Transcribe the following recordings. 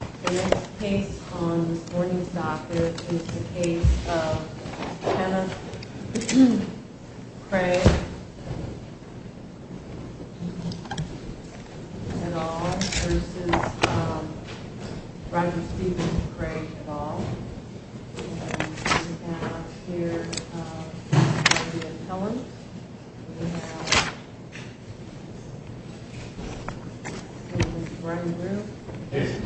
The next case on this morning's docket is the case of Kenneth Craig et al. v. Roger Steven Craig et al. And we have here Dr. Helen. We have Mr. Brian Rue. And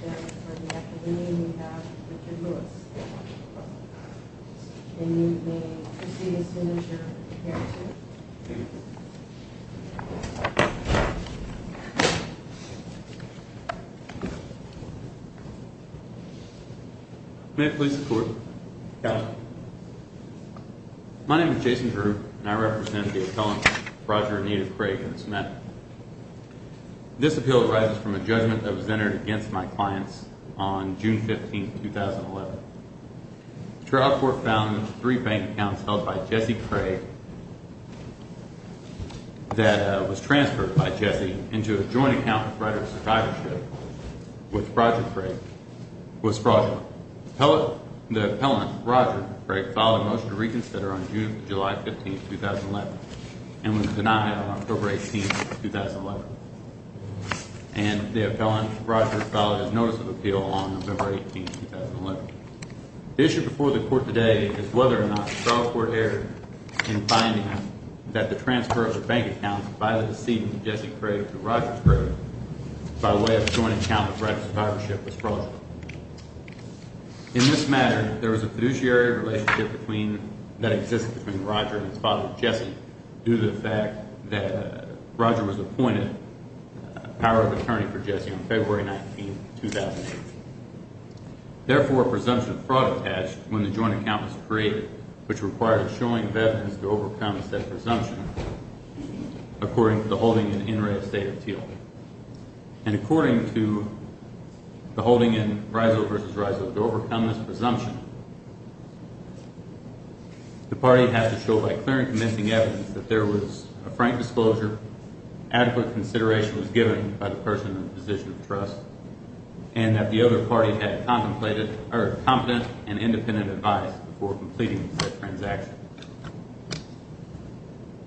then for the academician we have Richard Lewis. And you may proceed as soon as you're prepared to. May I please report? My name is Jason Rue and I represent the appellant Roger and Native Craig et al. This appeal arises from a judgment that was entered against my clients on June 15, 2011. The trial court found three bank accounts held by Jesse Craig that was transferred by Jesse into a joint account with Rider Survivorship with Roger Craig. The appellant Roger Craig filed a motion to reconsider on June 15, 2011 and was denied on October 18, 2011. And the appellant Roger filed a notice of appeal on November 18, 2011. The issue before the court today is whether or not the trial court erred in finding that the transfer of the bank accounts by the decedent Jesse Craig to Roger Craig by way of a joint account with Rider Survivorship was fraudulent. In this matter, there was a fiduciary relationship that existed between Roger and his father, Jesse, due to the fact that Roger was appointed power of attorney for Jesse on February 19, 2008. Therefore, presumption of fraud attached when the joint account was created, which required a showing of evidence to overcome said presumption, according to the holding in NRA estate of Teal. And according to the holding in RISO v. RISO, to overcome this presumption, the party had to show by clear and convincing evidence that there was a frank disclosure, adequate consideration was given by the person in the position of trust, and that the other party had a competent and independent advice before completing the transaction.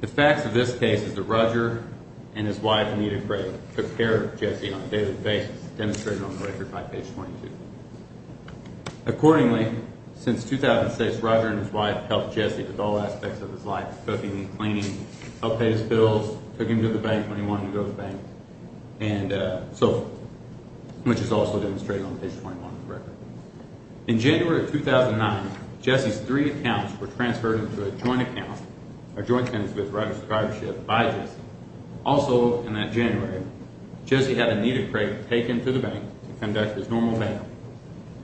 The facts of this case is that Roger and his wife Anita Craig took care of Jesse on a daily basis, demonstrated on the record by page 22. Accordingly, since 2006, Roger and his wife helped Jesse with all aspects of his life, cooking and cleaning, helped pay his bills, took him to the bank when he wanted to go to the bank, and so forth, which is also demonstrated on page 21 of the record. In January of 2009, Jesse's three accounts were transferred into a joint account, a joint tenancy with Roger's drivership, by Jesse. Also in that January, Jesse had Anita Craig taken to the bank to conduct his normal bank,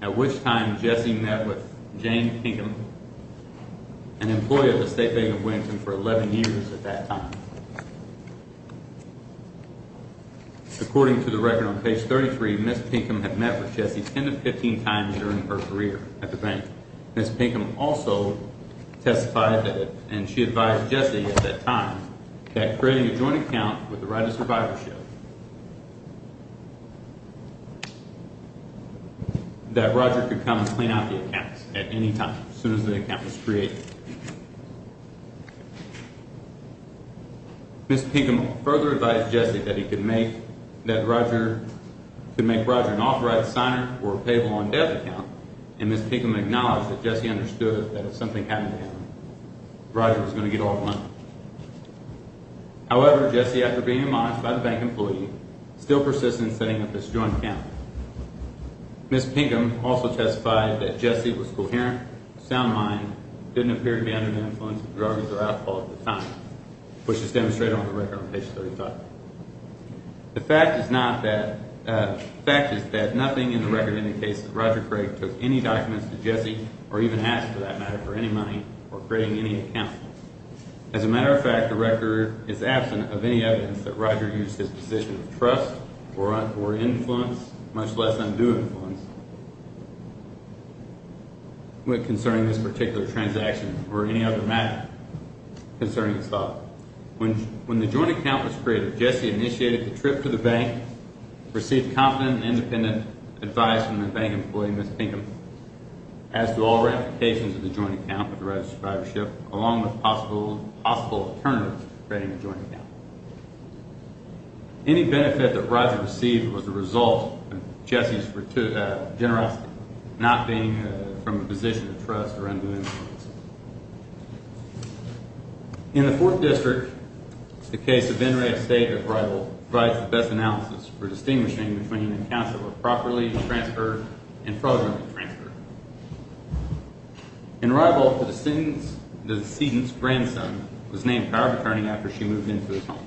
at which time Jesse met with Jane Pinkham, an employee of the State Bank of Williamson, for 11 years at that time. According to the record on page 33, Ms. Pinkham had met with Jesse 10 to 15 times during her career at the bank. Ms. Pinkham also testified, and she advised Jesse at that time, that creating a joint account with Roger's drivership, that Roger could come and clean out the accounts at any time, as soon as the account was created. Ms. Pinkham further advised Jesse that he could make Roger an authorized signer for a payable on debt account, and Ms. Pinkham acknowledged that Jesse understood that if something happened to him, Roger was going to get all the money. However, Jesse, after being admonished by the bank employee, still persisted in setting up this joint account. Ms. Pinkham also testified that Jesse was coherent, a sound mind, didn't appear to be under the influence of drugs or alcohol at the time, which is demonstrated on the record on page 35. The fact is that nothing in the record indicates that Roger Craig took any documents to Jesse, or even asked for that matter, for any money, or creating any accounts. As a matter of fact, the record is absent of any evidence that Roger used his position of trust or influence, much less undue influence, concerning this particular transaction, or any other matter concerning his father. When the joint account was created, Jesse initiated the trip to the bank, received confident and independent advice from the bank employee, Ms. Pinkham. As to all ramifications of the joint account with Roger's survivorship, along with possible alternatives to creating a joint account. Any benefit that Roger received was the result of Jesse's generosity, not being from a position of trust or undue influence. In the Fourth District, the case of Venray Estate of Rival provides the best analysis for distinguishing between accounts that were properly transferred and fraudulently transferred. In Rival, the decedent's grandson was named power of attorney after she moved into his home.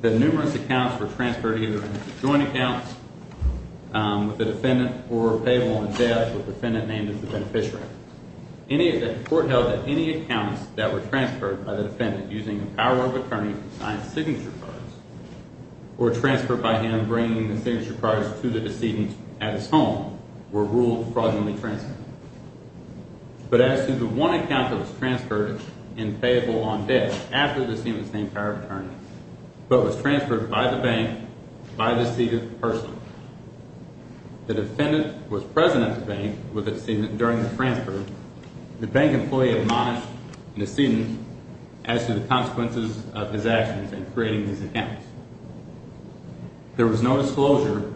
The numerous accounts were transferred either into joint accounts with the defendant, or were paid while in debt with the defendant named as the beneficiary. The court held that any accounts that were transferred by the defendant using the power of attorney to sign signature cards, or transferred by him bringing the signature cards to the decedent at his home, were ruled fraudulently transferred. But as to the one account that was transferred in payable on debt after the decedent was named power of attorney, but was transferred by the bank by the decedent personally, the defendant was present at the bank with the decedent during the transfer. The bank employee admonished the decedent as to the consequences of his actions in creating these accounts. There was no disclosure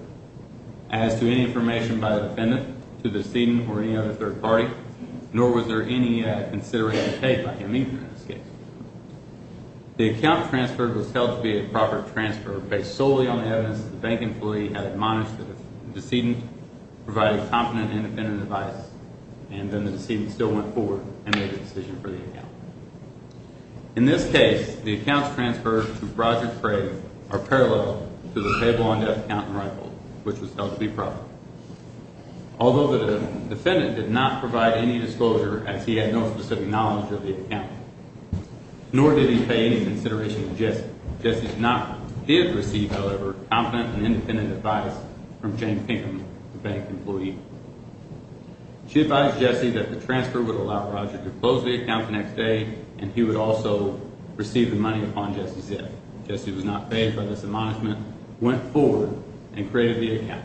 as to any information by the defendant to the decedent or any other third party, nor was there any consideration paid by him either in this case. The account transferred was held to be a proper transfer based solely on the evidence that the bank employee had admonished the decedent, provided competent and independent advice, and then the decedent still went forward and made a decision for the account. In this case, the accounts transferred to Roger Craig are parallel to the payable on debt account in Rival, which was held to be proper. Although the defendant did not provide any disclosure as he had no specific knowledge of the account, nor did he pay any consideration to Jesse. Jesse did receive, however, competent and independent advice from Jane Pinkham, the bank employee. She advised Jesse that the transfer would allow Roger to close the account the next day, and he would also receive the money upon Jesse's death. Jesse was not paid by this admonishment, went forward, and created the account.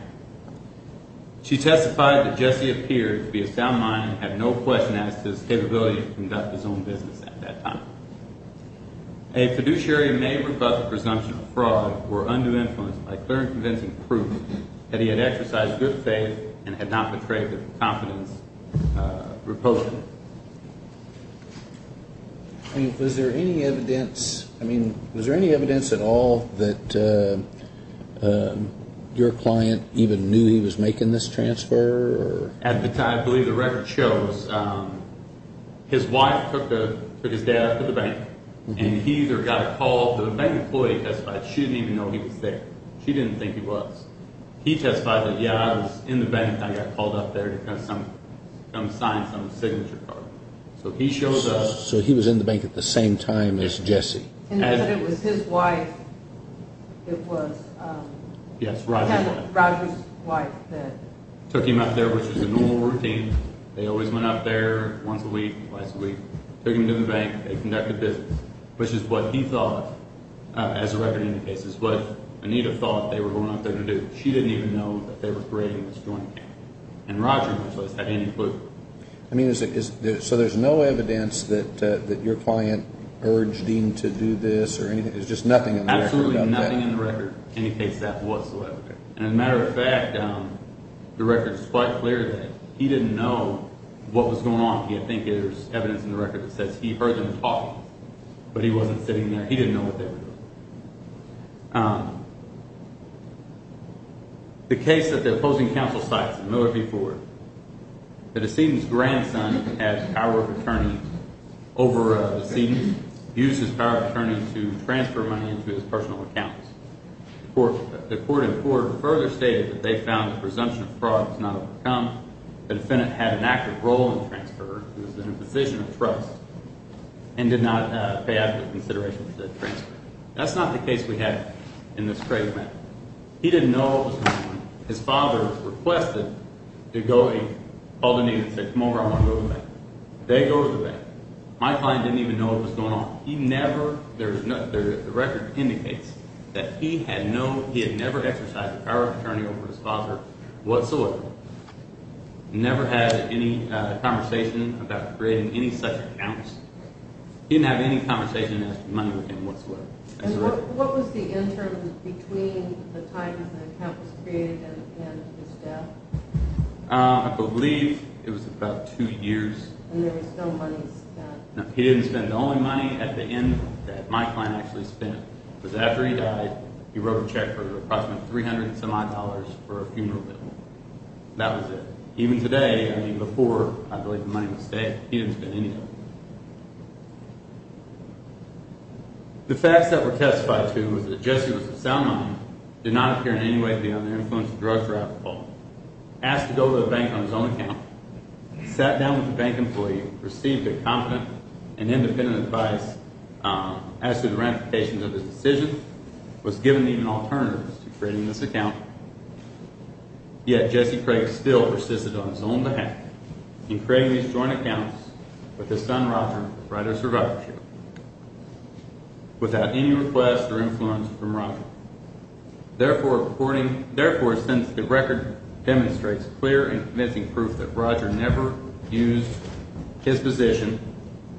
She testified that Jesse appeared to be a sound mind and had no question as to his capability to conduct his own business at that time. A fiduciary may rebut the presumption of fraud or undue influence by clearly convincing proof that he had exercised good faith and had not betrayed the confidence repository. I mean, was there any evidence, I mean, was there any evidence at all that your client even knew he was making this transfer? At the time, I believe the record shows his wife took his dad to the bank, and he either got a call from the bank employee. She didn't even know he was there. She didn't think he was. He testified that, yeah, I was in the bank, and I got called up there to come sign some signature card. So he shows up. So he was in the bank at the same time as Jesse. And that it was his wife, it was. Yes, Roger's wife. Roger's wife that. Took him out there, which was a normal routine. They always went out there once a week, twice a week. Took him to the bank. They conducted business, which is what he thought, as a record indicates, is what Anita thought they were going out there to do. She didn't even know that they were creating this joint account. And Roger, much less, had any clue. I mean, so there's no evidence that your client urged him to do this or anything? There's just nothing in the record about that? Absolutely nothing in the record indicates that whatsoever. And as a matter of fact, the record is quite clear that he didn't know what was going on. I think there's evidence in the record that says he heard them talking, but he wasn't sitting there. He didn't know what they were doing. The case that the opposing counsel cites, Miller v. Ford, the decedent's grandson had power of attorney over a decedent, used his power of attorney to transfer money into his personal account. The court in Ford further stated that they found the presumption of fraud was not overcome. The defendant had an active role in the transfer, was in a position of trust, and did not pay after the consideration of the transfer. That's not the case we have in this case. He didn't know what was going on. His father requested to go, called Anita and said, come over, I want to go to the bank. They go to the bank. My client didn't even know what was going on. The record indicates that he had never exercised the power of attorney over his father whatsoever. He never had any conversation about creating any such accounts. He didn't have any conversation as to money with him whatsoever. What was the interim between the time the account was created and his death? I believe it was about two years. And there was no money spent? He didn't spend. The only money at the end that my client actually spent was after he died, he wrote a check for approximately 300 and some odd dollars for a funeral bill. That was it. Even today, I mean before, I believe the money was saved. He didn't spend any of it. The facts that were testified to was that Jesse was a sound mind, did not appear in any way to be under the influence of drugs or alcohol, asked to go to the bank on his own account, sat down with a bank employee, received competent and independent advice as to the ramifications of his decision, was given even alternatives to creating this account, yet Jesse Craig still persisted on his own behalf in creating these joint accounts with his son, Roger, Therefore, since the record demonstrates clear and convincing proof that Roger never used his position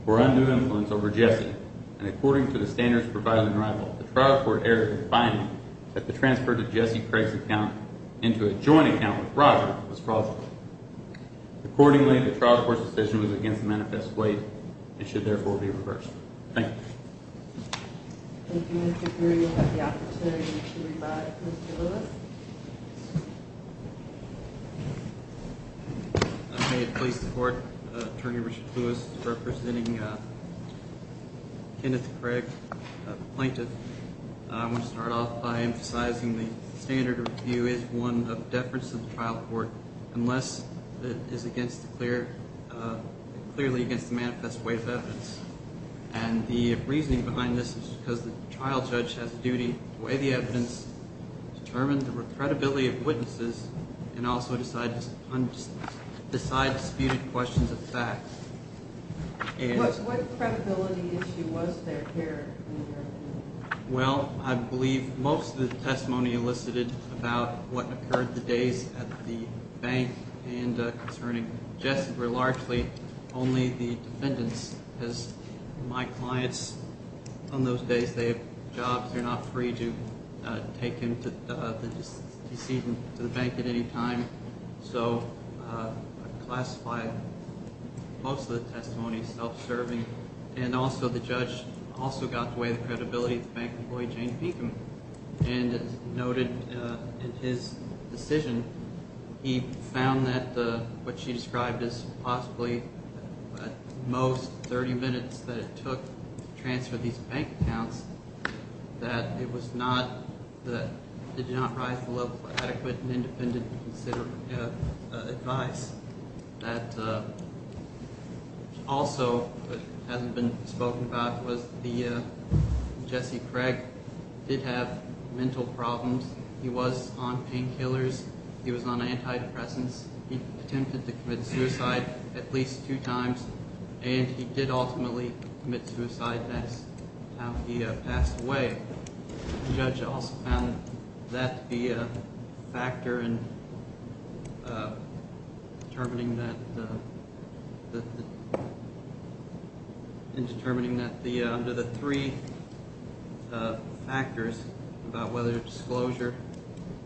for undue influence over Jesse, and according to the standards provided in rival, the trial court erred in finding that the transfer to Jesse Craig's account into a joint account with Roger was plausible. Accordingly, the trial court's decision was against the manifest way and should therefore be reversed. Thank you. Thank you, Mr. Greer. You'll have the opportunity to revive Mr. Lewis. I'm here to please support Attorney Richard Lewis representing Kenneth Craig, a plaintiff. I want to start off by emphasizing the standard of review is one of deference to the trial court unless it is clearly against the manifest way of evidence. And the reasoning behind this is because the trial judge has a duty to weigh the evidence, determine the credibility of witnesses, and also decide disputed questions of fact. What credibility issue was there here in your opinion? Well, I believe most of the testimony elicited about what occurred the days at the bank and concerning Jesse were largely only the defendants. As my clients on those days, they have jobs. They're not free to take him to the bank at any time. So I classify most of the testimony self-serving. And also the judge also got to weigh the credibility of the bank employee, Jane Beekham, and noted in his decision he found that what she described as possibly at most 30 minutes that it took to transfer these bank accounts, that it was not that it did not rise to the level of adequate and independent advice. That also hasn't been spoken about was the Jesse Craig did have mental problems. He was on painkillers. He was on antidepressants. He attempted to commit suicide at least two times, and he did ultimately commit suicide as he passed away. The judge also found that to be a factor in determining that under the three factors about whether disclosure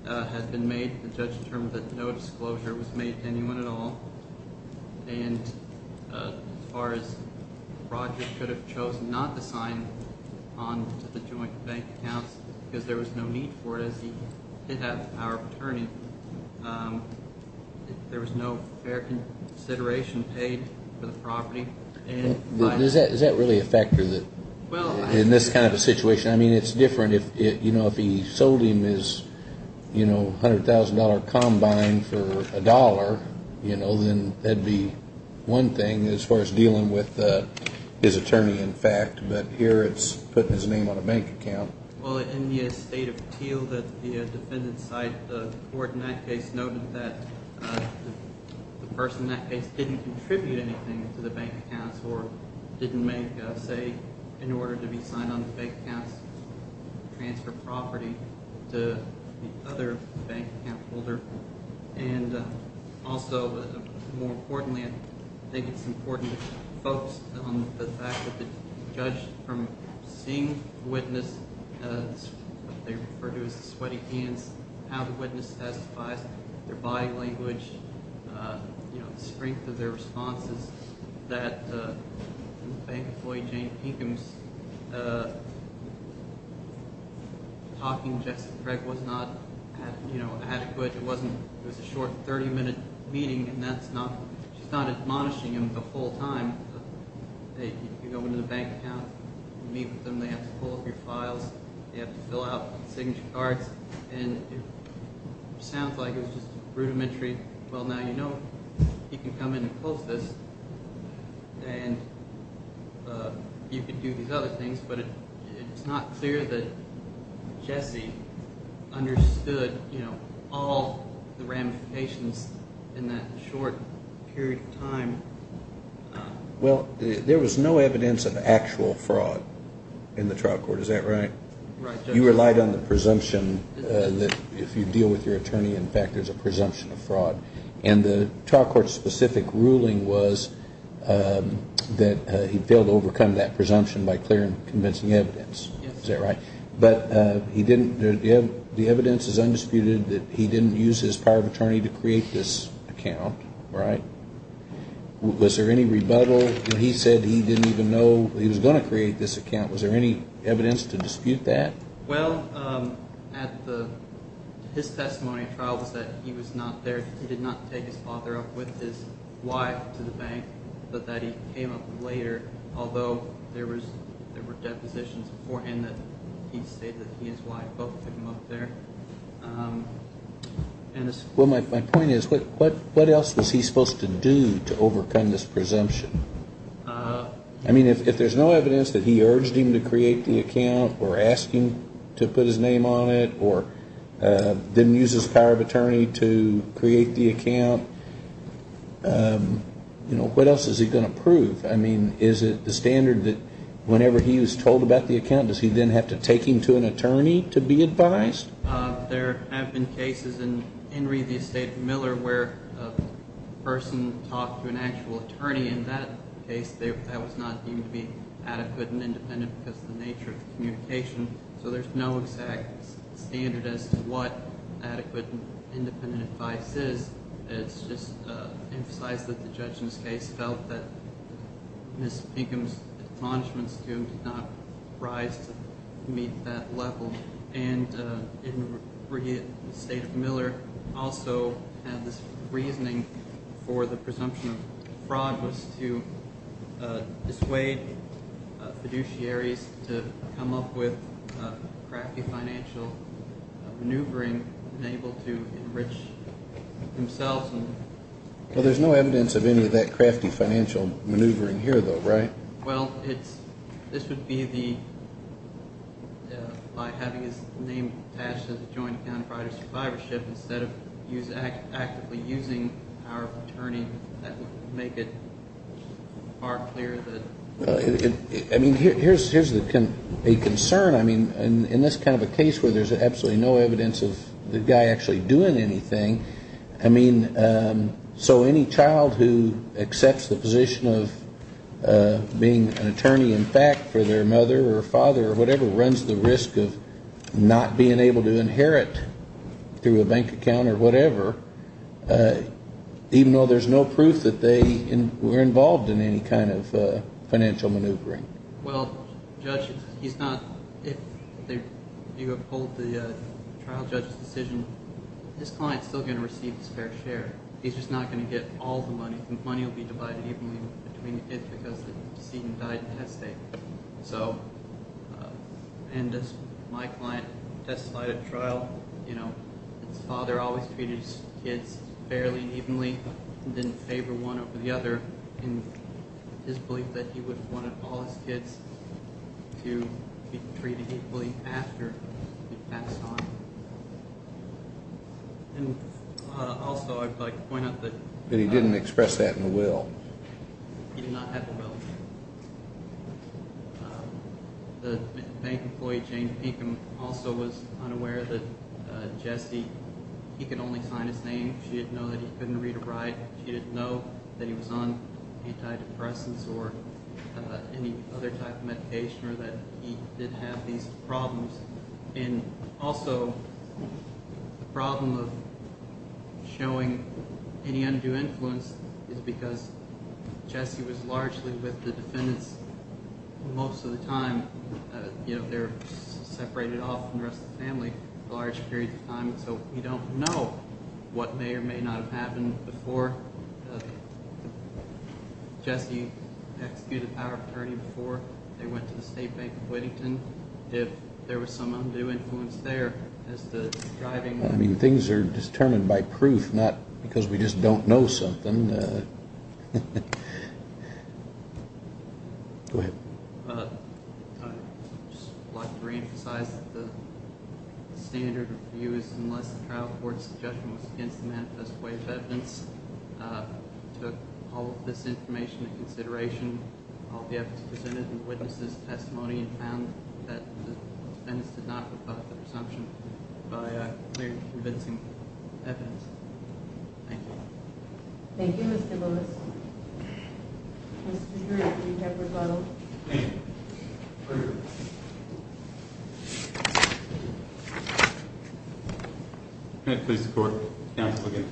had been made, the judge determined that no disclosure was made to anyone at all. And as far as Roger could have chosen not to sign on to the joint bank accounts because there was no need for it as he did have the power of attorney, there was no fair consideration paid for the property. Is that really a factor in this kind of a situation? I mean, it's different if he sold him his $100,000 combine for a dollar, then that would be one thing as far as dealing with his attorney, in fact. But here it's putting his name on a bank account. Well, in the estate of Teal, the defendant's side, the court in that case, noted that the person in that case didn't contribute anything to the bank accounts or didn't make a say in order to be signed on to the bank accounts to transfer property to the other bank account holder. And also, more importantly, I think it's important to focus on the fact that the judge, from seeing the witness, what they refer to as the sweaty hands, how the witness testified, their body language, the strength of their responses, that bank employee Jane Pinkham's talking to Jackson Craig was not adequate. It was a short 30-minute meeting, and that's not – she's not admonishing him the whole time. You go into the bank account, you meet with them, they have to pull up your files, they have to fill out signature cards, and it sounds like it was just rudimentary. Well, now you know he can come in and post this, and you can do these other things, but it's not clear that Jesse understood all the ramifications in that short period of time. Well, there was no evidence of actual fraud in the trial court. Is that right? Right, Judge. You relied on the presumption that if you deal with your attorney, in fact, there's a presumption of fraud. And the trial court's specific ruling was that he failed to overcome that presumption by clear and convincing evidence. Is that right? But he didn't – the evidence is undisputed that he didn't use his power of attorney to create this account, right? Was there any rebuttal when he said he didn't even know he was going to create this account? Was there any evidence to dispute that? Well, his testimony in trial was that he was not there. He did not take his father up with his wife to the bank, but that he came up later, although there were depositions beforehand that he stated that he and his wife both took him up there. Well, my point is, what else was he supposed to do to overcome this presumption? I mean, if there's no evidence that he urged him to create the account or asked him to put his name on it or didn't use his power of attorney to create the account, you know, what else is he going to prove? I mean, is it the standard that whenever he was told about the account, does he then have to take him to an attorney to be advised? There have been cases in Henry v. State v. Miller where a person talked to an actual attorney. In that case, that was not deemed to be adequate and independent because of the nature of the communication. So there's no exact standard as to what adequate and independent advice is. It's just emphasized that the judge in this case felt that Ms. Pinkham's in the state of Miller also had this reasoning for the presumption of fraud was to dissuade fiduciaries to come up with crafty financial maneuvering and able to enrich themselves. Well, there's no evidence of any of that crafty financial maneuvering here, though, right? Well, this would be by having his name attached to the joint account of private survivorship instead of actively using power of attorney. That would make it far clearer. I mean, here's a concern. I mean, in this kind of a case where there's absolutely no evidence of the guy actually doing anything, I mean, so any child who accepts the position of being an attorney in fact for their mother or father or whatever runs the risk of not being able to inherit through a bank account or whatever, even though there's no proof that they were involved in any kind of financial maneuvering. Well, Judge, if you uphold the trial judge's decision, his client's still going to receive the spare share. He's just not going to get all the money. The money will be divided evenly between the kids because the decedent died in the head state. And as my client testified at trial, his father always treated his kids fairly and evenly and didn't favor one over the other in his belief that he would want all his kids to be treated equally after he passed on. And also I'd like to point out that he didn't express that in the will. He did not have the will. The bank employee, Jane Pinkham, also was unaware that Jesse, he could only sign his name. She didn't know that he couldn't read or write. She didn't know that he was on antidepressants or any other type of medication or that he did have these problems. And also the problem of showing any undue influence is because Jesse was largely with the defendants most of the time. They were separated off from the rest of the family for large periods of time. So we don't know what may or may not have happened before Jesse executed our attorney, before they went to the State Bank of Whittington, if there was some undue influence there as to driving them. I mean, things are determined by proof, not because we just don't know something. Go ahead. I'd just like to reemphasize that the standard of abuse, unless the trial court's suggestion was against the manifest way of evidence, took all of this information into consideration. I'll be able to present it in the witness' testimony and found that the defendants did not rebut the presumption by clearly convincing evidence. Thank you. Thank you, Mr. Lewis. Mr. Drew, do you have a rebuttal? Thank you. May it please the court, counsel again.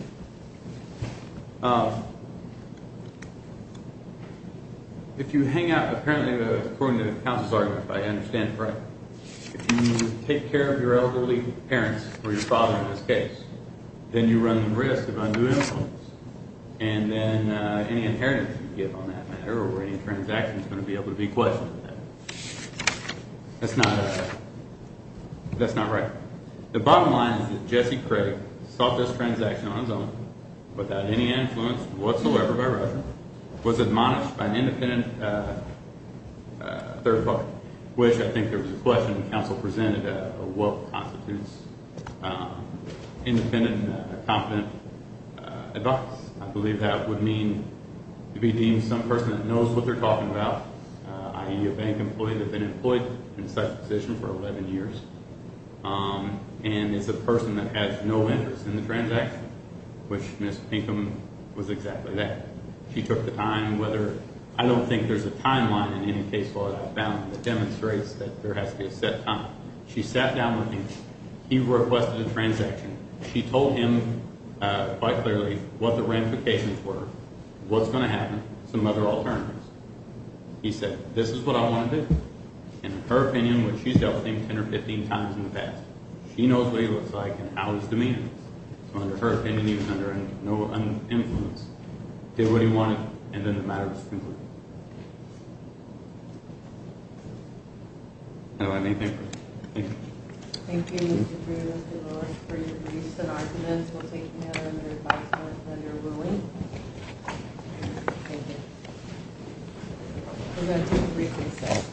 If you hang out, apparently, according to the counsel's argument, if I understand it right, if you take care of your elderly parents, or your father in this case, then you run the risk of undue influence. And then any inheritance you give on that matter, or any transaction, is going to be able to be questioned. That's not right. The bottom line is that Jesse Craig sought this transaction on his own, without any influence whatsoever by Russia, was admonished by an independent third party, which I think there was a question the counsel presented, of what constitutes independent and competent advocates. I believe that would mean to be deemed some person that knows what they're talking about, i.e., a bank employee that's been employed in such a position for 11 years. And it's a person that has no interest in the transaction, which Ms. Pinkham was exactly that. She took the time, whether, I don't think there's a timeline in any case law that I've found that demonstrates that there has to be a set time. She sat down with him. He requested a transaction. She told him quite clearly what the ramifications were, what's going to happen, some other alternatives. He said, this is what I want to do. And in her opinion, which she's dealt with him 10 or 15 times in the past, she knows what he looks like and how his demeanor is. So under her opinion, he was under no influence. Did what he wanted, and then the matter was concluded. I don't have anything further. Thank you. Thank you, Mr. Drew, Mr. Lewis, for your briefs and arguments. We'll take them now. Thank you. We're going to take a brief recess.